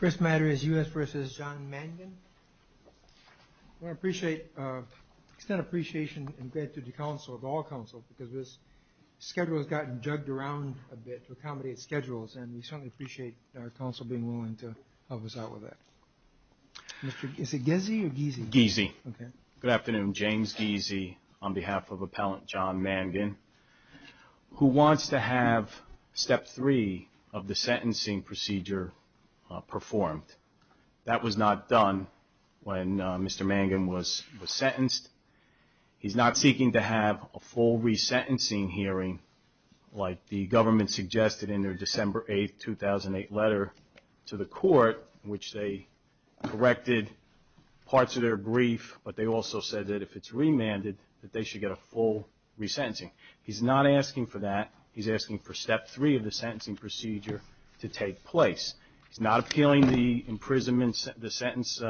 First matter is U.S. v. John Mangan. We want to extend our appreciation and gratitude to the Council, of all Councils, because this schedule has gotten jugged around a bit to accommodate schedules, and we certainly appreciate our Council being willing to help us out with that. Is it Gizzi or Gizzi? Gizzi. Okay. Good afternoon. James Gizzi on behalf of Appellant John Mangan, who wants to have Step 3 of the sentencing procedure performed. That was not done when Mr. Mangan was sentenced. He's not seeking to have a full resentencing hearing like the government suggested in their December 8, 2008 letter to the court, which they provided. They directed parts of their brief, but they also said that if it's remanded, that they should get a full resentencing. He's not asking for that. He's asking for Step 3 of the sentencing procedure to take place. He's not appealing the imprisonment, the sentence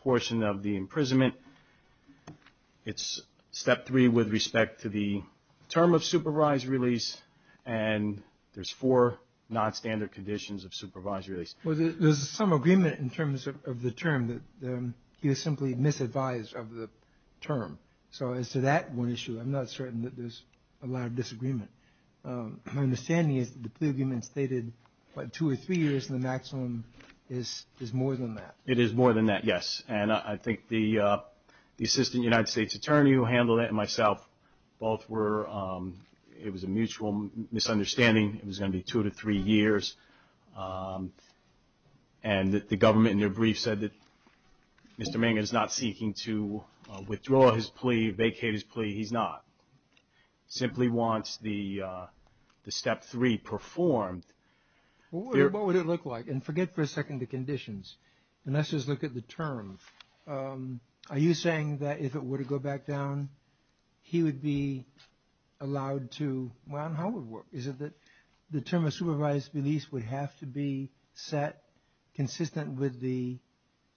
portion of the imprisonment. It's Step 3 with respect to the term of supervised release, and there's four nonstandard conditions of supervised release. Well, there's some agreement in terms of the term that he was simply misadvised of the term. So as to that one issue, I'm not certain that there's a lot of disagreement. My understanding is that the plea agreement stated, what, two or three years in the maximum is more than that. It is more than that, yes. And I think the Assistant United States Attorney who handled it and myself both were, it was a mutual misunderstanding. It was going to be two to three years. And the government in their brief said that Mr. Mangan is not seeking to withdraw his plea, vacate his plea. He's not. Simply wants the Step 3 performed. What would it look like? And forget for a second the conditions. Let's just look at the term. Are you saying that if it were to go back down, he would be allowed to, well, how would it work? Is it that the term of supervised release would have to be set consistent with the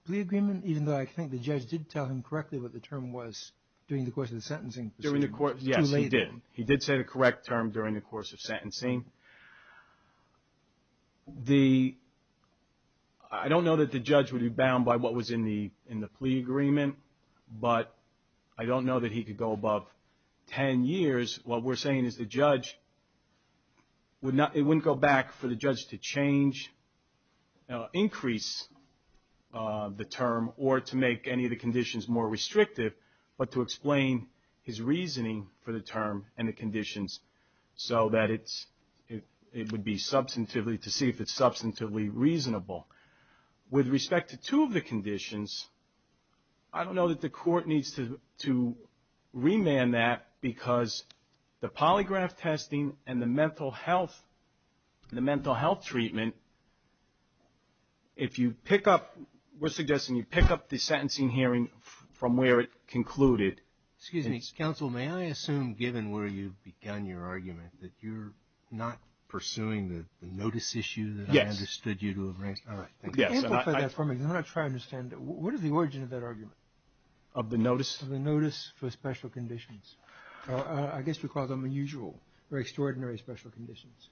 plea agreement, even though I think the judge did tell him correctly what the term was during the course of the sentencing procedure? Yes, he did. He did say the correct term during the course of sentencing. The, I don't know that the judge would be bound by what was in the plea agreement, but I don't know that he could go above 10 years. What we're saying is the judge would not, it wouldn't go back for the judge to change, increase the term or to make any of the conditions more restrictive, but to explain his reasoning. For the term and the conditions so that it's, it would be substantively to see if it's substantively reasonable. With respect to two of the conditions, I don't know that the court needs to remand that because the polygraph testing and the mental health, the mental health treatment, if you pick up, we're suggesting you pick up the sentencing hearing from where it concluded. Excuse me, counsel, may I assume, given where you've begun your argument, that you're not pursuing the notice issue that I understood you to have raised? Yes. All right. Yes. Amplify that for me. I'm not trying to understand. What is the origin of that argument? Of the notice? Of the notice for special conditions. I guess we call them unusual or extraordinary special conditions.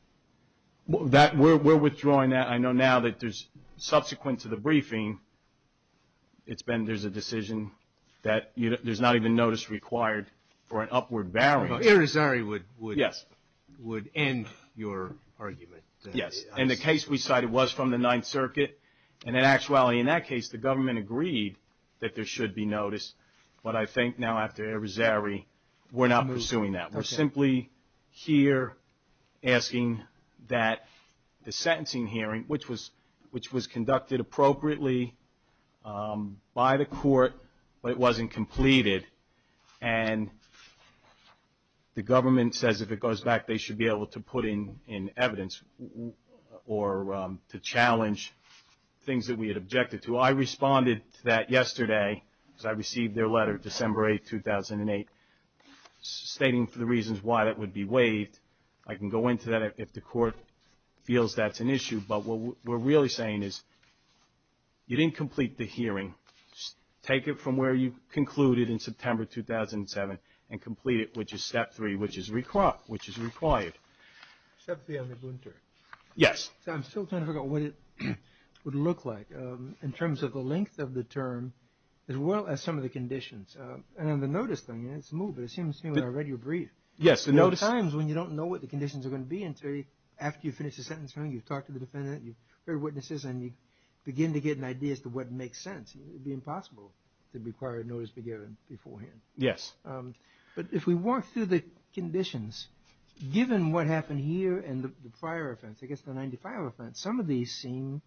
That, we're, we're withdrawing that. I know now that there's subsequent to the briefing, it's been, there's a decision that there's not even notice required for an upward bearing. But Arizari would, would. Yes. Would end your argument. Yes. And the case we cited was from the Ninth Circuit. And in actuality, in that case, the government agreed that there should be notice. But I think now after Arizari, we're not pursuing that. We're simply here asking that the sentencing hearing, which was, which was conducted appropriately by the court, but it wasn't completed. And the government says if it goes back, they should be able to put in, in evidence or to challenge things that we had objected to. So I responded to that yesterday because I received their letter, December 8th, 2008, stating for the reasons why that would be waived. I can go into that if the court feels that's an issue. But what we're really saying is you didn't complete the hearing. Take it from where you concluded in September 2007 and complete it, which is step three, which is required, which is required. Step three on the boon term. Yes. So I'm still trying to figure out what it would look like in terms of the length of the term, as well as some of the conditions. And on the notice thing, it's smooth, but it seems to me when I read your brief. Yes, the notice. There are times when you don't know what the conditions are going to be until after you finish the sentence hearing, you've talked to the defendant, you've heard witnesses, and you begin to get an idea as to what makes sense. It would be impossible to require a notice be given beforehand. Yes. But if we walk through the conditions, given what happened here and the prior offense, I guess the 1995 offense, some of these seem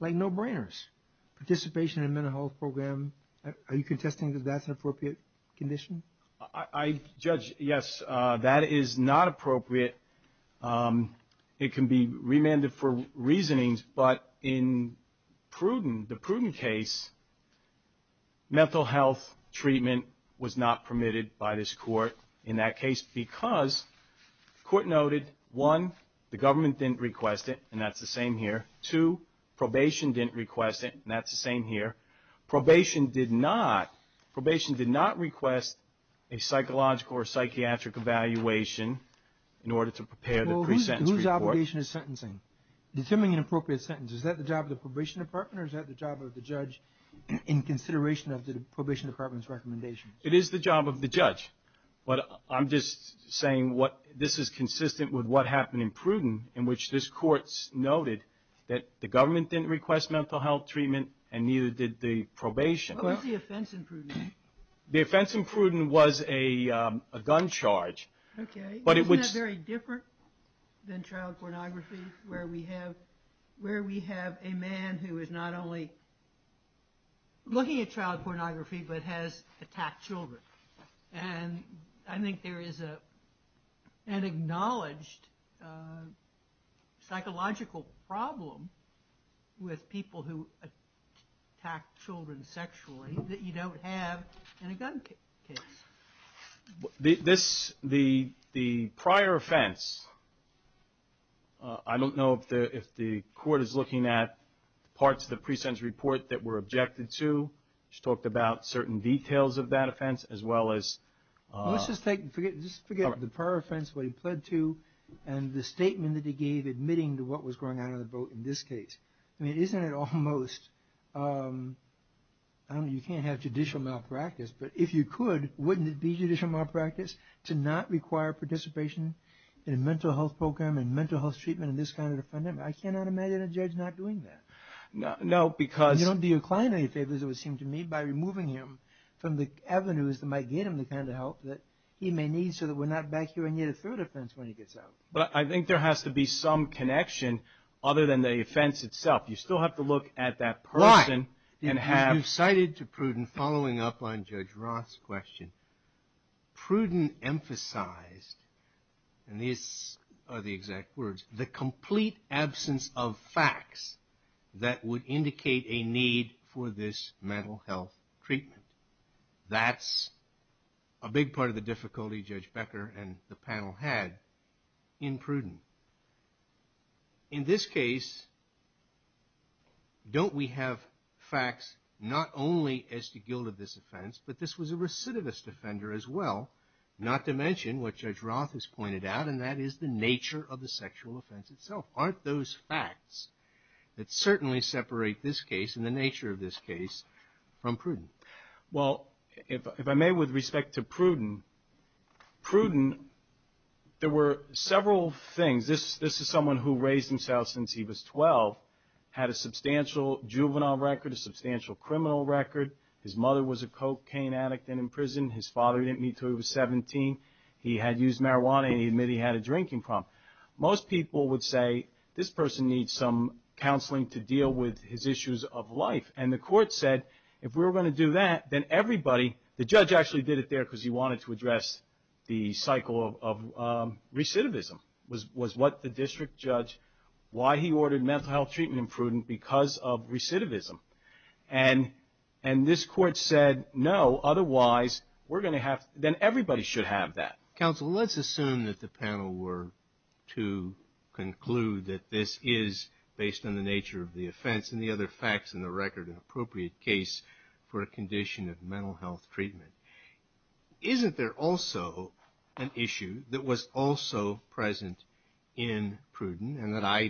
like no-brainers. Participation in a mental health program, are you contesting that that's an appropriate condition? I judge, yes, that is not appropriate. It can be remanded for reasonings, but in Pruden, the Pruden case, mental health treatment was not permitted by this court in that case because the court noted, one, the government didn't request it, and that's the same here. Two, probation didn't request it, and that's the same here. Probation did not request a psychological or psychiatric evaluation in order to prepare the pre-sentence report. Well, whose obligation is sentencing? Determining an appropriate sentence, is that the job of the probation department or is that the job of the judge in consideration of the probation department's recommendations? I'm just saying this is consistent with what happened in Pruden in which this court noted that the government didn't request mental health treatment and neither did the probation. What was the offense in Pruden? The offense in Pruden was a gun charge. Okay. Isn't that very different than child pornography where we have a man who is not only looking at child pornography but has attacked children? And I think there is an acknowledged psychological problem with people who attack children sexually that you don't have in a gun case. The prior offense, I don't know if the court is looking at parts of the pre-sentence report that were objected to. She talked about certain details of that offense as well as... Let's just forget the prior offense, what he pled to, and the statement that he gave admitting to what was going on in the boat in this case. I mean, isn't it almost, I don't know, you can't have judicial malpractice, but if you could, wouldn't it be judicial malpractice to not require participation in a mental health program and mental health treatment in this kind of defendant? I cannot imagine a judge not doing that. No, because... You don't do your client any favors, it would seem to me, by removing him from the avenues that might get him the kind of help that he may need so that we're not back here and get a third offense when he gets out. But I think there has to be some connection other than the offense itself. You still have to look at that person and have... Why? Because you cited to Pruden, following up on Judge Roth's question, Pruden emphasized, and these are the exact words, the complete absence of facts that would indicate a need for this mental health treatment. That's a big part of the difficulty Judge Becker and the panel had in Pruden. In this case, don't we have facts not only as to guilt of this offense, but this was a recidivist offender as well, not to mention what Judge Roth has pointed out, and that is the nature of the sexual offense itself. Aren't those facts that certainly separate this case and the nature of this case from Pruden? Well, if I may, with respect to Pruden, Pruden, there were several things. This is someone who raised himself since he was 12, had a substantial juvenile record, a substantial criminal record. His mother was a cocaine addict in prison. His father didn't meet until he was 17. He had used marijuana, and he admitted he had a drinking problem. Most people would say, this person needs some counseling to deal with his issues of life. And the court said, if we're going to do that, then everybody, the judge actually did it there because he wanted to address the cycle of recidivism, was what the district judge, why he ordered mental health treatment in Pruden because of recidivism. And this court said, no, otherwise, we're going to have, then everybody should have that. Counsel, let's assume that the panel were to conclude that this is, based on the nature of the offense and the other facts in the record, an appropriate case for a condition of mental health treatment. Isn't there also an issue that was also present in Pruden and that I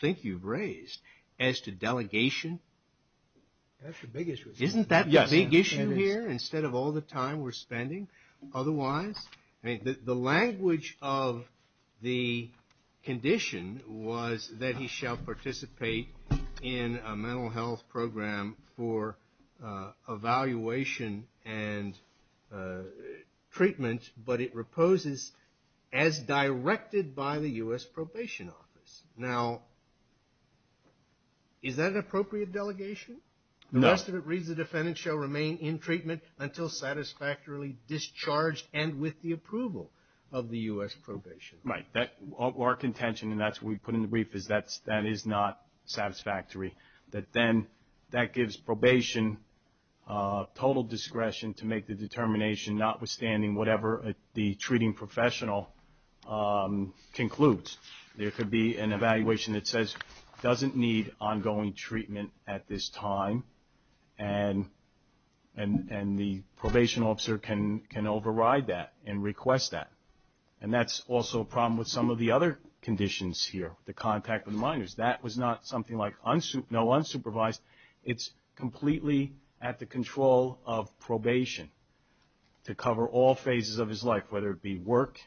think you've raised as to delegation? That's the big issue. Isn't that the big issue here instead of all the time we're spending? Otherwise, the language of the condition was that he shall participate in a mental health program for evaluation and treatment, but it reposes as directed by the U.S. Probation Office. Now, is that an appropriate delegation? No. The rest of it reads the defendant shall remain in treatment until satisfactorily discharged and with the approval of the U.S. probation. Right. Our contention, and that's what we put in the brief, is that that is not satisfactory, that then that gives probation total discretion to make the determination, notwithstanding whatever the treating professional concludes. There could be an evaluation that says doesn't need ongoing treatment at this time, and the probation officer can override that and request that. And that's also a problem with some of the other conditions here, the contact with minors. That was not something like no unsupervised. It's completely at the control of probation to cover all phases of his life, whether it be work,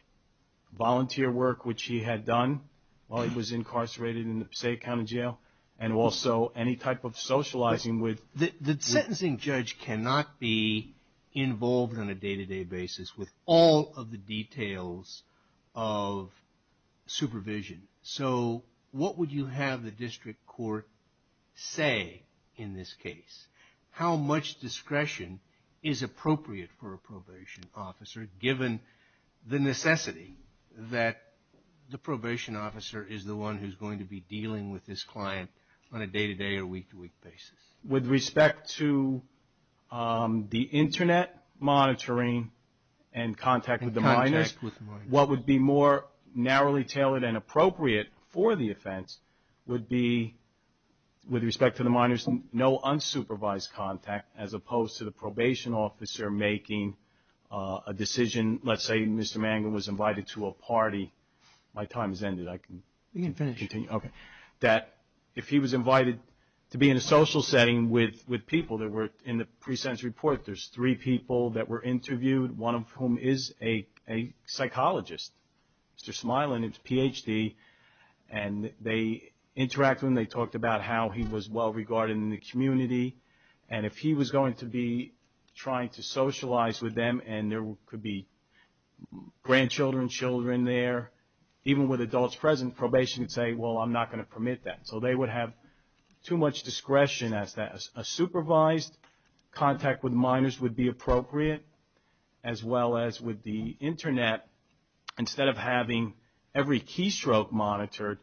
volunteer work, which he had done while he was incarcerated in the Passaic County Jail, and also any type of socializing with. The sentencing judge cannot be involved on a day-to-day basis with all of the details of supervision. So what would you have the district court say in this case? How much discretion is appropriate for a probation officer, given the necessity that the probation officer is the one who's going to be dealing with this client on a day-to-day or week-to-week basis? With respect to the Internet monitoring and contact with the minors, what would be more narrowly tailored and appropriate for the offense would be, with respect to the minors, no unsupervised contact as opposed to the probation officer making a decision. Let's say Mr. Mangum was invited to a party. My time has ended. I can continue. Okay. That if he was invited to be in a social setting with people that were in the pre-sentence report, there's three people that were interviewed, one of whom is a psychologist, Mr. Smilan. His Ph.D. And they interacted and they talked about how he was well-regarded in the community. And if he was going to be trying to socialize with them and there could be grandchildren, children there, even with adults present, probation would say, well, I'm not going to permit that. So they would have too much discretion. A supervised contact with minors would be appropriate, as well as with the Internet, instead of having every keystroke monitored.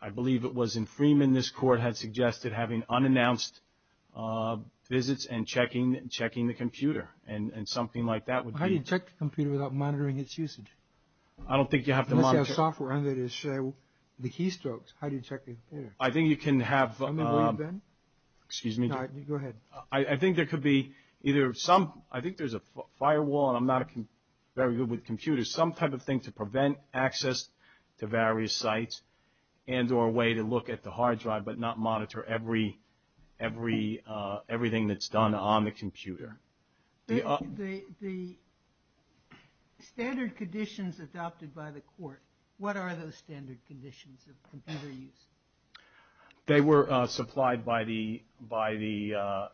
I believe it was in Freeman this court had suggested having unannounced visits and checking the computer. And something like that would be. How do you check the computer without monitoring its usage? I don't think you have to monitor. Unless you have software under it to show the keystrokes. How do you check the computer? I think you can have. Excuse me. Go ahead. I think there could be either some. I think there's a firewall. And I'm not very good with computers. Some type of thing to prevent access to various sites and or a way to look at the hard drive, but not monitor everything that's done on the computer. The standard conditions adopted by the court, what are those standard conditions of computer use? They were supplied by the,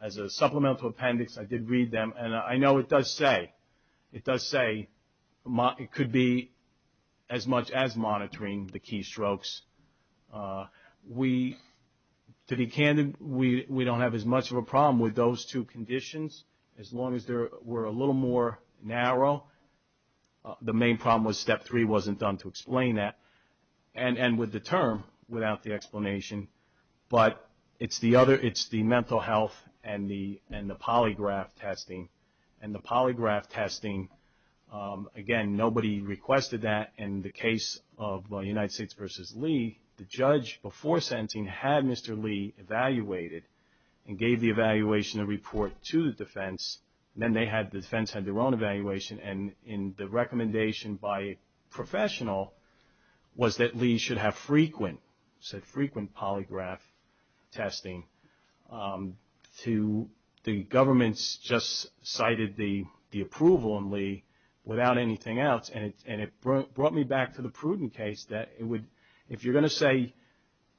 as a supplemental appendix, I did read them. And I know it does say, it does say it could be as much as monitoring the keystrokes. We, to be candid, we don't have as much of a problem with those two conditions, as long as they were a little more narrow. The main problem was step three wasn't done to explain that. And with the term, without the explanation. But it's the other, it's the mental health and the polygraph testing. And the polygraph testing, again, nobody requested that. In the case of United States v. Lee, the judge before sentencing had Mr. Lee evaluated and gave the evaluation report to the defense. Then they had, the defense had their own evaluation. And the recommendation by a professional was that Lee should have frequent, said frequent polygraph testing to the government's, just cited the approval in Lee without anything else. And it brought me back to the Pruden case that it would, if you're going to say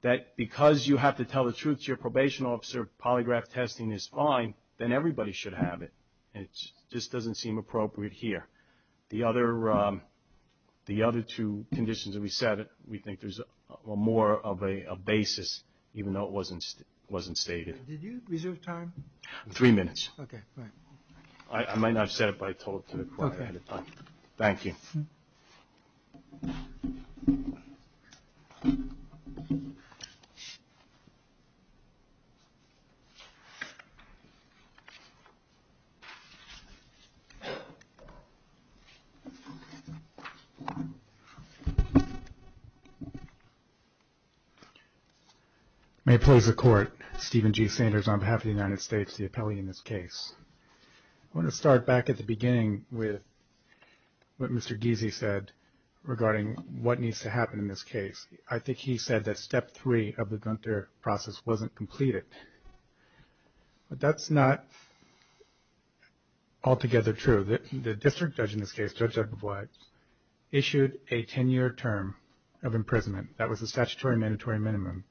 that because you have to tell the truth to your probation officer, polygraph testing is fine, then everybody should have it. And it just doesn't seem appropriate here. The other two conditions that we said, we think there's more of a basis, even though it wasn't stated. Did you reserve time? Three minutes. Okay, fine. I might not have said it, but I told it to the court ahead of time. Thank you. May it please the court, Stephen G. Sanders on behalf of the United States, the appellee in this case. I want to start back at the beginning with what Mr. Giese said regarding what needs to happen in this case. I think he said that step three of the Gunter process wasn't completed. But that's not altogether true. The district judge in this case, Judge Eberblatt, issued a ten-year term of imprisonment. That was a statutory mandatory minimum.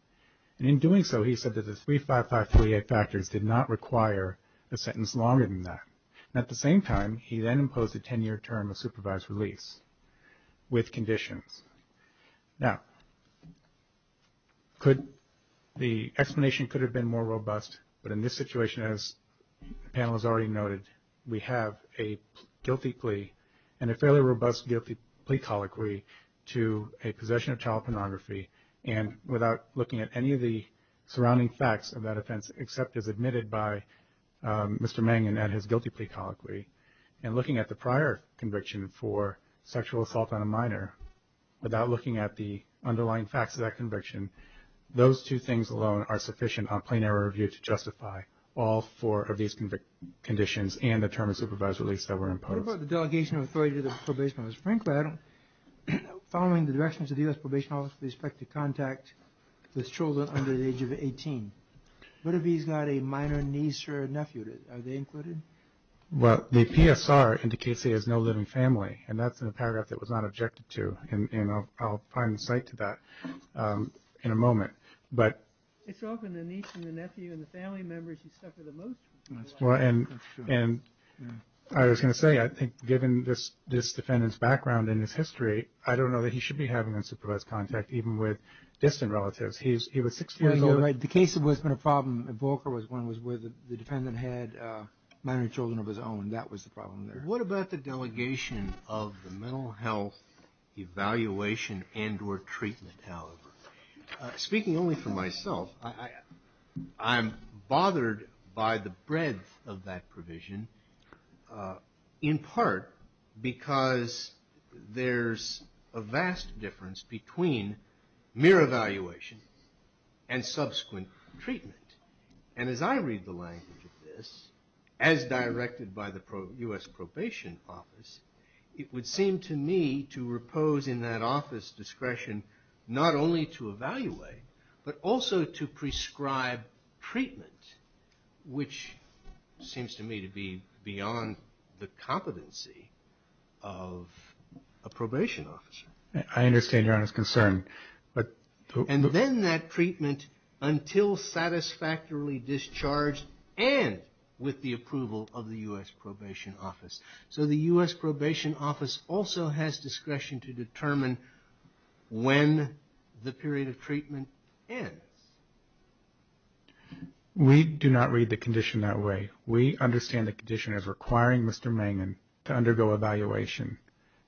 And in doing so, he said that the 35538 factors did not require a sentence longer than that. And at the same time, he then imposed a ten-year term of supervised release with conditions. Now, the explanation could have been more robust. But in this situation, as the panel has already noted, we have a guilty plea and a fairly robust guilty plea colloquy to a possession of child pornography. And without looking at any of the surrounding facts of that offense, except as admitted by Mr. Mangan at his guilty plea colloquy, and looking at the prior conviction for sexual assault on a minor, without looking at the underlying facts of that conviction, those two things alone are sufficient on plain error review to justify all four of these conditions and the term of supervised release that were imposed. What about the delegation of authority to the probation office? Frankly, I don't know. Following the directions of the U.S. Probation Office, we expect to contact the children under the age of 18. What if he's got a minor niece or a nephew? Are they included? Well, the PSR indicates he has no living family, and that's a paragraph that was not objected to. And I'll find insight to that in a moment. It's often the niece and the nephew and the family members you suffer the most from. And I was going to say, I think given this defendant's background and his history, I don't know that he should be having unsupervised contact, even with distant relatives. He was six years old. You're right. The case that was a problem at Volker was one where the defendant had minor children of his own. That was the problem there. What about the delegation of the mental health evaluation and or treatment, however? Speaking only for myself, I'm bothered by the breadth of that provision, in part because there's a vast difference between mere evaluation and subsequent treatment. And as I read the language of this, as directed by the U.S. Probation Office, it would seem to me to repose in that office discretion not only to evaluate, but also to prescribe treatment, which seems to me to be beyond the competency of a probation officer. I understand your concern. And then that treatment until satisfactorily discharged and with the approval of the U.S. Probation Office. So the U.S. Probation Office also has discretion to determine when the period of treatment ends. We do not read the condition that way. We understand the condition as requiring Mr. Mangan to undergo evaluation,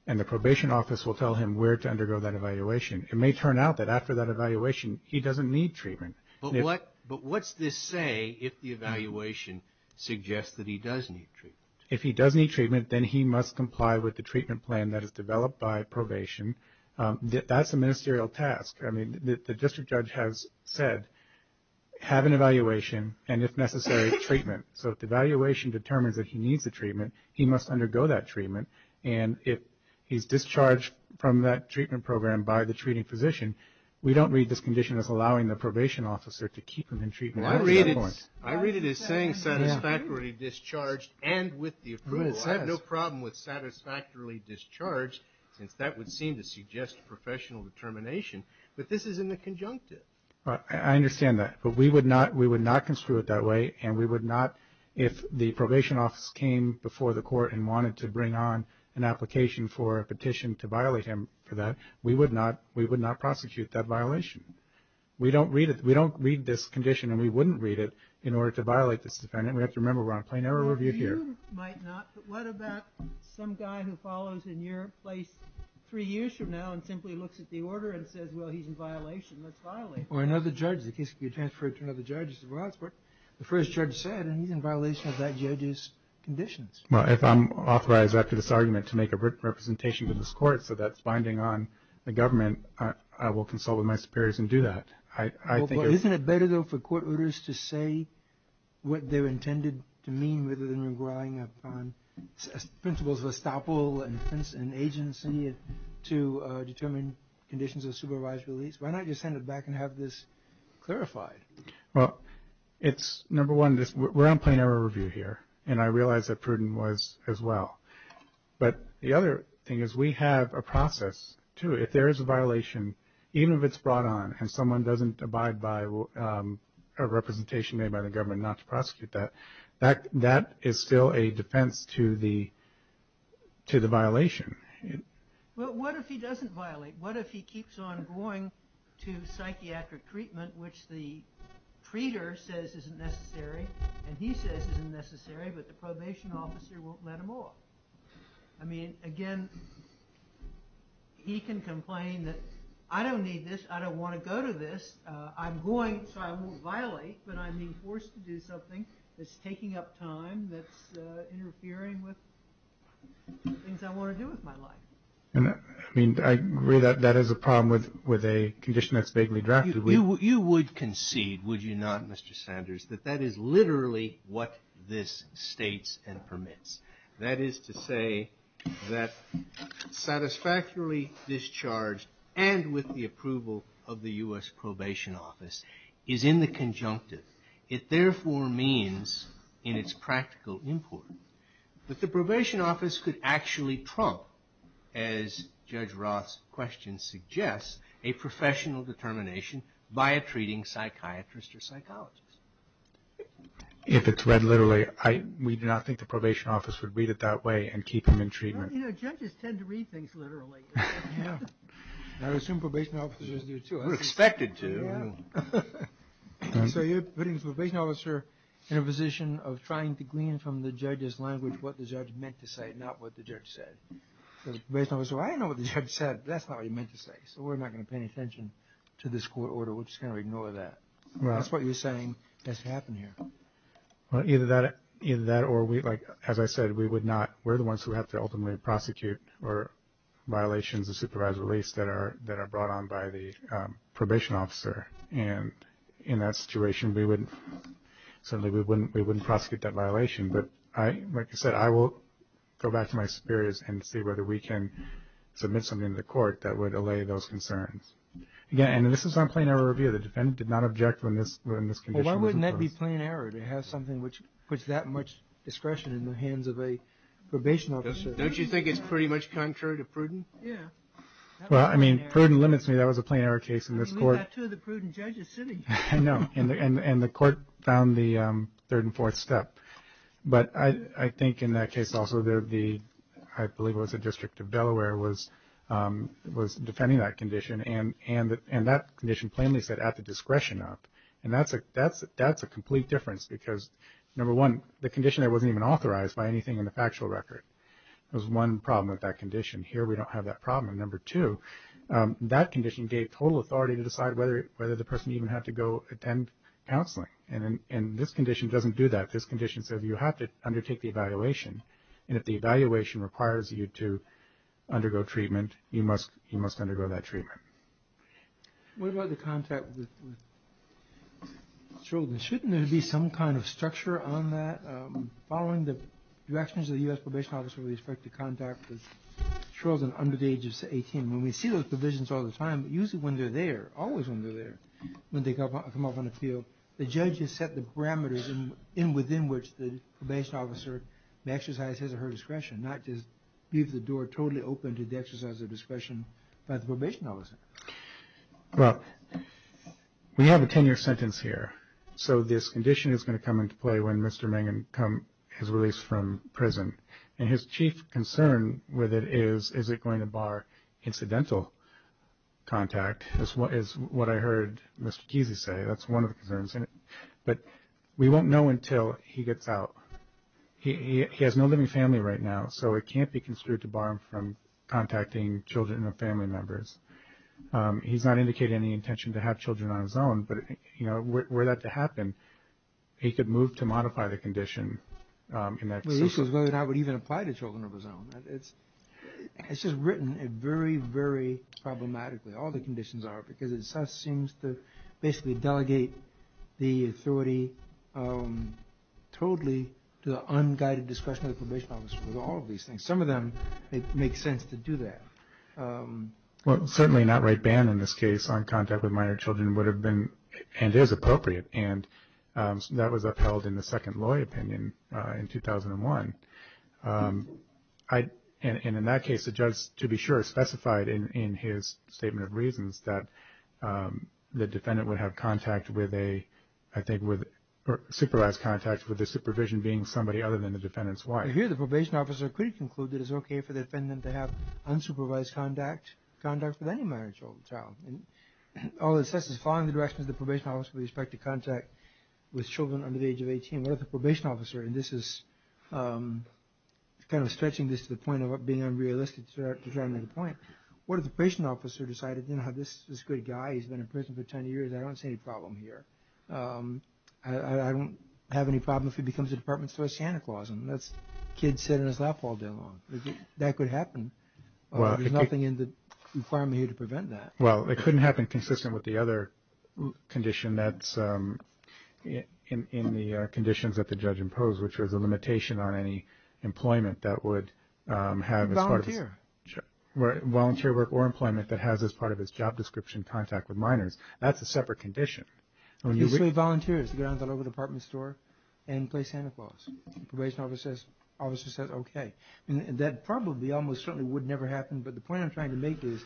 and the Probation Office will tell him where to undergo that evaluation. It may turn out that after that evaluation, he doesn't need treatment. But what's this say if the evaluation suggests that he does need treatment? If he does need treatment, then he must comply with the treatment plan that is developed by probation. That's a ministerial task. I mean, the district judge has said, have an evaluation, and if necessary, treatment. So if the evaluation determines that he needs the treatment, he must undergo that treatment. And if he's discharged from that treatment program by the treating physician, we don't read this condition as allowing the probation officer to keep him in treatment. I read it as saying satisfactorily discharged and with the approval. I have no problem with satisfactorily discharged, since that would seem to suggest professional determination. But this is in the conjunctive. I understand that. But we would not construe it that way. And we would not, if the Probation Office came before the court and wanted to bring on an application for a petition to violate him for that, we would not prosecute that violation. We don't read this condition, and we wouldn't read it, in order to violate this defendant. We have to remember we're on a plain error review here. You might not, but what about some guy who follows in your place three years from now and simply looks at the order and says, well, he's in violation. Let's violate him. Or another judge. The case could be transferred to another judge. The first judge said, and he's in violation of that judge's conditions. Well, if I'm authorized after this argument to make a written representation to this court, so that's binding on the government, I will consult with my superiors and do that. Isn't it better, though, for court orders to say what they're intended to mean rather than relying upon principles of estoppel and agency to determine conditions of supervised release? Why not just send it back and have this clarified? Well, it's, number one, we're on plain error review here. And I realize that Pruden was as well. But the other thing is we have a process, too. If there is a violation, even if it's brought on and someone doesn't abide by a representation made by the government not to prosecute that, that is still a defense to the violation. Well, what if he doesn't violate? What if he keeps on going to psychiatric treatment, which the treater says isn't necessary and he says isn't necessary but the probation officer won't let him off? I mean, again, he can complain that I don't need this, I don't want to go to this, I'm going so I won't violate but I'm being forced to do something that's taking up time, that's interfering with things I want to do with my life. I mean, I agree that that is a problem with a condition that's vaguely drafted. You would concede, would you not, Mr. Sanders, that that is literally what this states and permits. That is to say that satisfactorily discharged and with the approval of the U.S. Probation Office is in the conjunctive. It therefore means in its practical import that the probation office could actually trump, as Judge Roth's question suggests, a professional determination by a treating psychiatrist or psychologist. If it's read literally, we do not think the probation office would read it that way and keep him in treatment. You know, judges tend to read things literally. I assume probation officers do too. We're expected to. So you're putting the probation officer in a position of trying to glean from the judge's language what the judge meant to say, not what the judge said. The probation officer, I don't know what the judge said. That's not what he meant to say. So we're not going to pay any attention to this court order. We're just going to ignore that. That's what you're saying has to happen here. Either that or, as I said, we would not. We're the ones who have to ultimately prosecute or violations of supervised release that are brought on by the probation officer. And in that situation, certainly we wouldn't prosecute that violation. But like I said, I will go back to my superiors and see whether we can submit something to the court that would allay those concerns. Again, and this is on plain error review. The defendant did not object when this condition was imposed. Well, why wouldn't that be plain error to have something which puts that much discretion in the hands of a probation officer? Don't you think it's pretty much contrary to prudent? Yeah. Well, I mean, prudent limits me. That was a plain error case in this court. I mean, we've got two of the prudent judges sitting here. I know. And the court found the third and fourth step. But I think in that case also, I believe it was the District of Delaware was defending that condition, and that condition plainly said at the discretion of. And that's a complete difference because, number one, the condition there wasn't even authorized by anything in the factual record. It was one problem with that condition. Here we don't have that problem. Number two, that condition gave total authority to decide whether the person even had to go attend counseling. And this condition doesn't do that. This condition says you have to undertake the evaluation. And if the evaluation requires you to undergo treatment, you must undergo that treatment. What about the contact with children? Shouldn't there be some kind of structure on that? Following the directions of the U.S. probation officer with respect to contact with children under the age of 18, when we see those provisions all the time, usually when they're there, always when they're there, when they come up on the field, the judge has set the parameters within which the probation officer may exercise his or her discretion, not just leave the door totally open to the exercise of discretion by the probation officer. Well, we have a 10-year sentence here. So this condition is going to come into play when Mr. Mangan has released from prison. And his chief concern with it is, is it going to bar incidental contact, is what I heard Mr. Kesey say. That's one of the concerns. But we won't know until he gets out. He has no living family right now, so it can't be construed to bar him from contacting children or family members. He's not indicating any intention to have children on his own, but were that to happen, he could move to modify the condition in that situation. The issue is whether or not it would even apply to children of his own. It's just written very, very problematically, all the conditions are, because it just seems to basically delegate the authority totally to the unguided discretion of the probation officer with all of these things. Some of them make sense to do that. Well, certainly not right ban in this case on contact with minor children would have been, and is, appropriate. And that was upheld in the second lawyer opinion in 2001. And in that case, the judge, to be sure, specified in his statement of reasons that the defendant would have contact with a, I think, supervised contact with the supervision being somebody other than the defendant's wife. I hear the probation officer could conclude that it's okay for the defendant to have unsupervised contact with any minor child. All it says is following the directions of the probation officer with respect to contact with children under the age of 18. What if the probation officer, and this is kind of stretching this to the point of being unrealistic to try to make a point, what if the probation officer decided, you know, this is a good guy, he's been in prison for 10 years, I don't see any problem here. I don't have any problem if he becomes a department store Santa Claus and lets kids sit in his lap all day long. That could happen. There's nothing in the requirement here to prevent that. Well, it couldn't happen consistent with the other condition that's in the conditions that the judge imposed, which was a limitation on any employment that would have as part of this. Volunteer. Volunteer work or employment that has as part of its job description contact with minors. That's a separate condition. Basically volunteers to go down to the local department store and play Santa Claus. The probation officer says okay. That probably almost certainly would never happen, but the point I'm trying to make is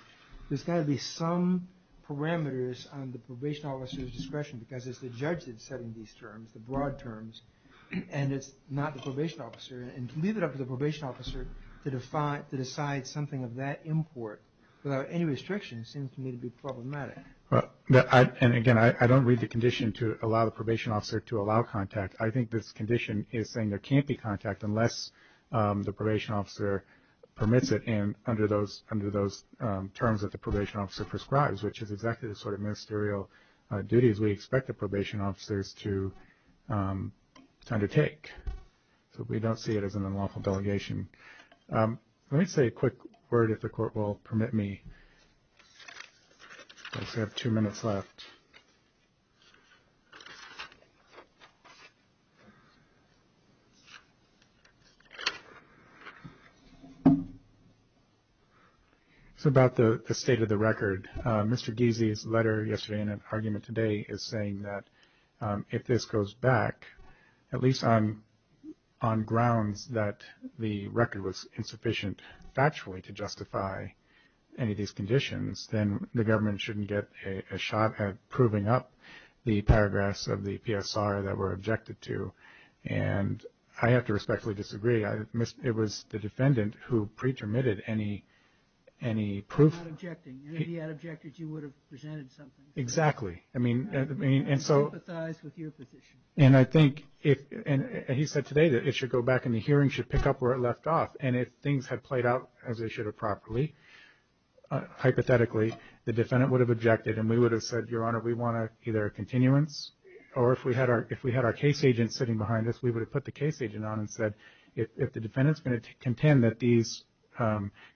there's got to be some parameters on the probation officer's discretion because it's the judge that's setting these terms, the broad terms, and it's not the probation officer, and to leave it up to the probation officer to decide something of that import without any restriction seems to me to be problematic. And again, I don't read the condition to allow the probation officer to allow contact. I think this condition is saying there can't be contact unless the probation officer permits it and under those terms that the probation officer prescribes, which is exactly the sort of ministerial duties we expect the probation officers to undertake. So we don't see it as an unlawful delegation. Let me say a quick word, if the court will permit me, because I have two minutes left. It's about the state of the record. Mr. Giese's letter yesterday and an argument today is saying that if this goes back, at least on grounds that the record was insufficient factually to justify any of these conditions, then the government shouldn't get a shot at proving up the paragraphs of the PSR that were objected to, and I have to respectfully disagree. It was the defendant who pre-termitted any proof. He's not objecting. If he had objected, you would have presented something. Exactly. I mean, and so… I sympathize with your position. And I think, and he said today that it should go back and the hearing should pick up where it left off, and if things had played out as they should have properly, hypothetically, the defendant would have objected and we would have said, Your Honor, we want either a continuance, or if we had our case agent sitting behind us, we would have put the case agent on and said, if the defendant's going to contend that these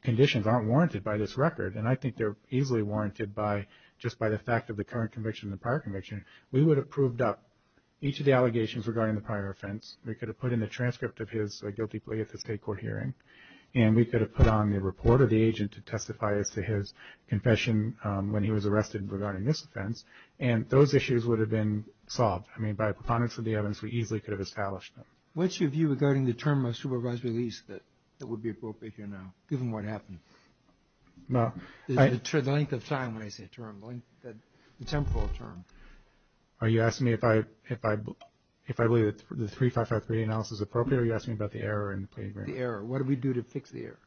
conditions aren't warranted by this record, and I think they're easily warranted just by the fact of the current conviction and the prior conviction, we would have proved up each of the allegations regarding the prior offense. We could have put in the transcript of his guilty plea at the state court hearing, and we could have put on the report of the agent to testify as to his confession when he was arrested regarding this offense, and those issues would have been solved. I mean, by preponderance of the evidence, we easily could have established them. What's your view regarding the term of supervised release that would be appropriate here now, given what happened? The length of time when I say term, the temporal term. Are you asking me if I believe that the 3553 analysis is appropriate, or are you asking me about the error in the plea agreement? The error. What did we do to fix the error?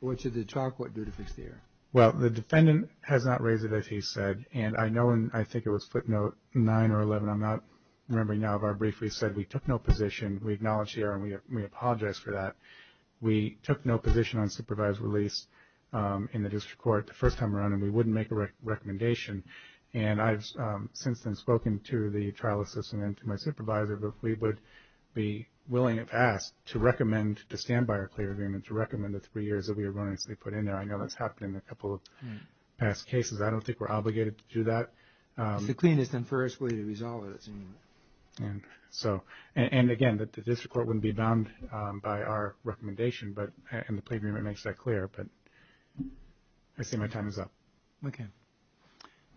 What should the trial court do to fix the error? Well, the defendant has not raised it, as he said, and I know, and I think it was footnote 9 or 11, I'm not remembering now, but I briefly said we took no position. We acknowledge the error, and we apologize for that. We took no position on supervised release in the district court the first time around, and we wouldn't make a recommendation. And I've since then spoken to the trial assistant and to my supervisor, but we would be willing, if asked, to recommend, to stand by our plea agreement, to recommend the three years that we were going to put in there. I know that's happened in a couple of past cases. I don't think we're obligated to do that. It's the cleanest and furthest way to resolve it. And so, and again, the district court wouldn't be bound by our recommendation, and the plea agreement makes that clear, but I see my time is up. Okay.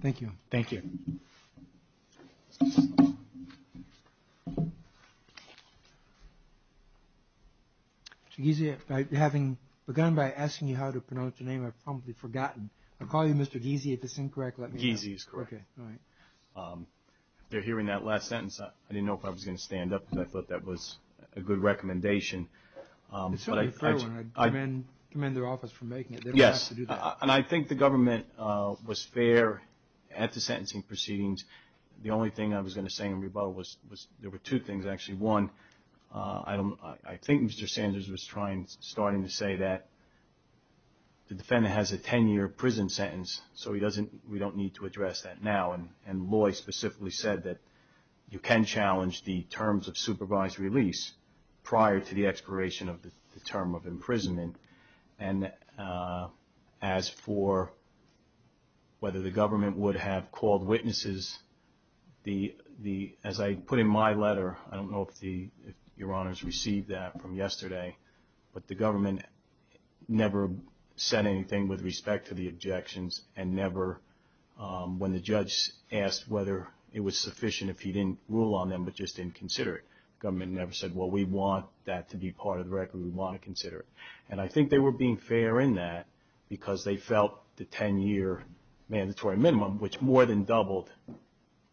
Thank you. Thank you. Mr. Ghesi, having begun by asking you how to pronounce your name, I've probably forgotten. I'll call you Mr. Ghesi if it's incorrect. Ghesi is correct. Okay. All right. If they're hearing that last sentence, I didn't know if I was going to stand up, and I thought that was a good recommendation. It's certainly a fair one. I commend their office for making it. They don't have to do that. Yes, and I think the government was fair at the sentencing proceedings. The only thing I was going to say in rebuttal was there were two things, actually. One, I think Mr. Sanders was starting to say that the defendant has a 10-year prison sentence, so we don't need to address that now, and Loy specifically said that you can challenge the terms of supervised release prior to the expiration of the term of imprisonment. And as for whether the government would have called witnesses, as I put in my letter, I don't know if Your Honors received that from yesterday, but the government never said anything with respect to the objections and never when the judge asked whether it was sufficient if he didn't rule on them but just didn't consider it. The government never said, well, we want that to be part of the record. We want to consider it. And I think they were being fair in that because they felt the 10-year mandatory minimum, which more than doubled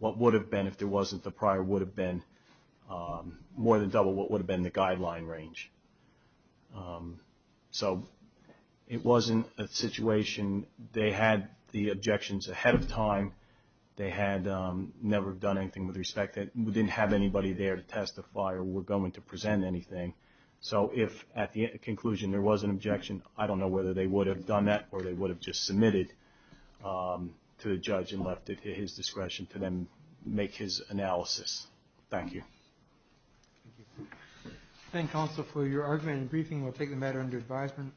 what would have been if there wasn't the prior would have been, more than doubled what would have been the guideline range. So it wasn't a situation. They had the objections ahead of time. They had never done anything with respect to it. We didn't have anybody there to testify or were going to present anything. So if at the conclusion there was an objection, I don't know whether they would have done that or they would have just submitted to the judge and left it to his discretion to then make his analysis. Thank you. Thank you, counsel, for your argument and briefing. We'll take the matter under advisement.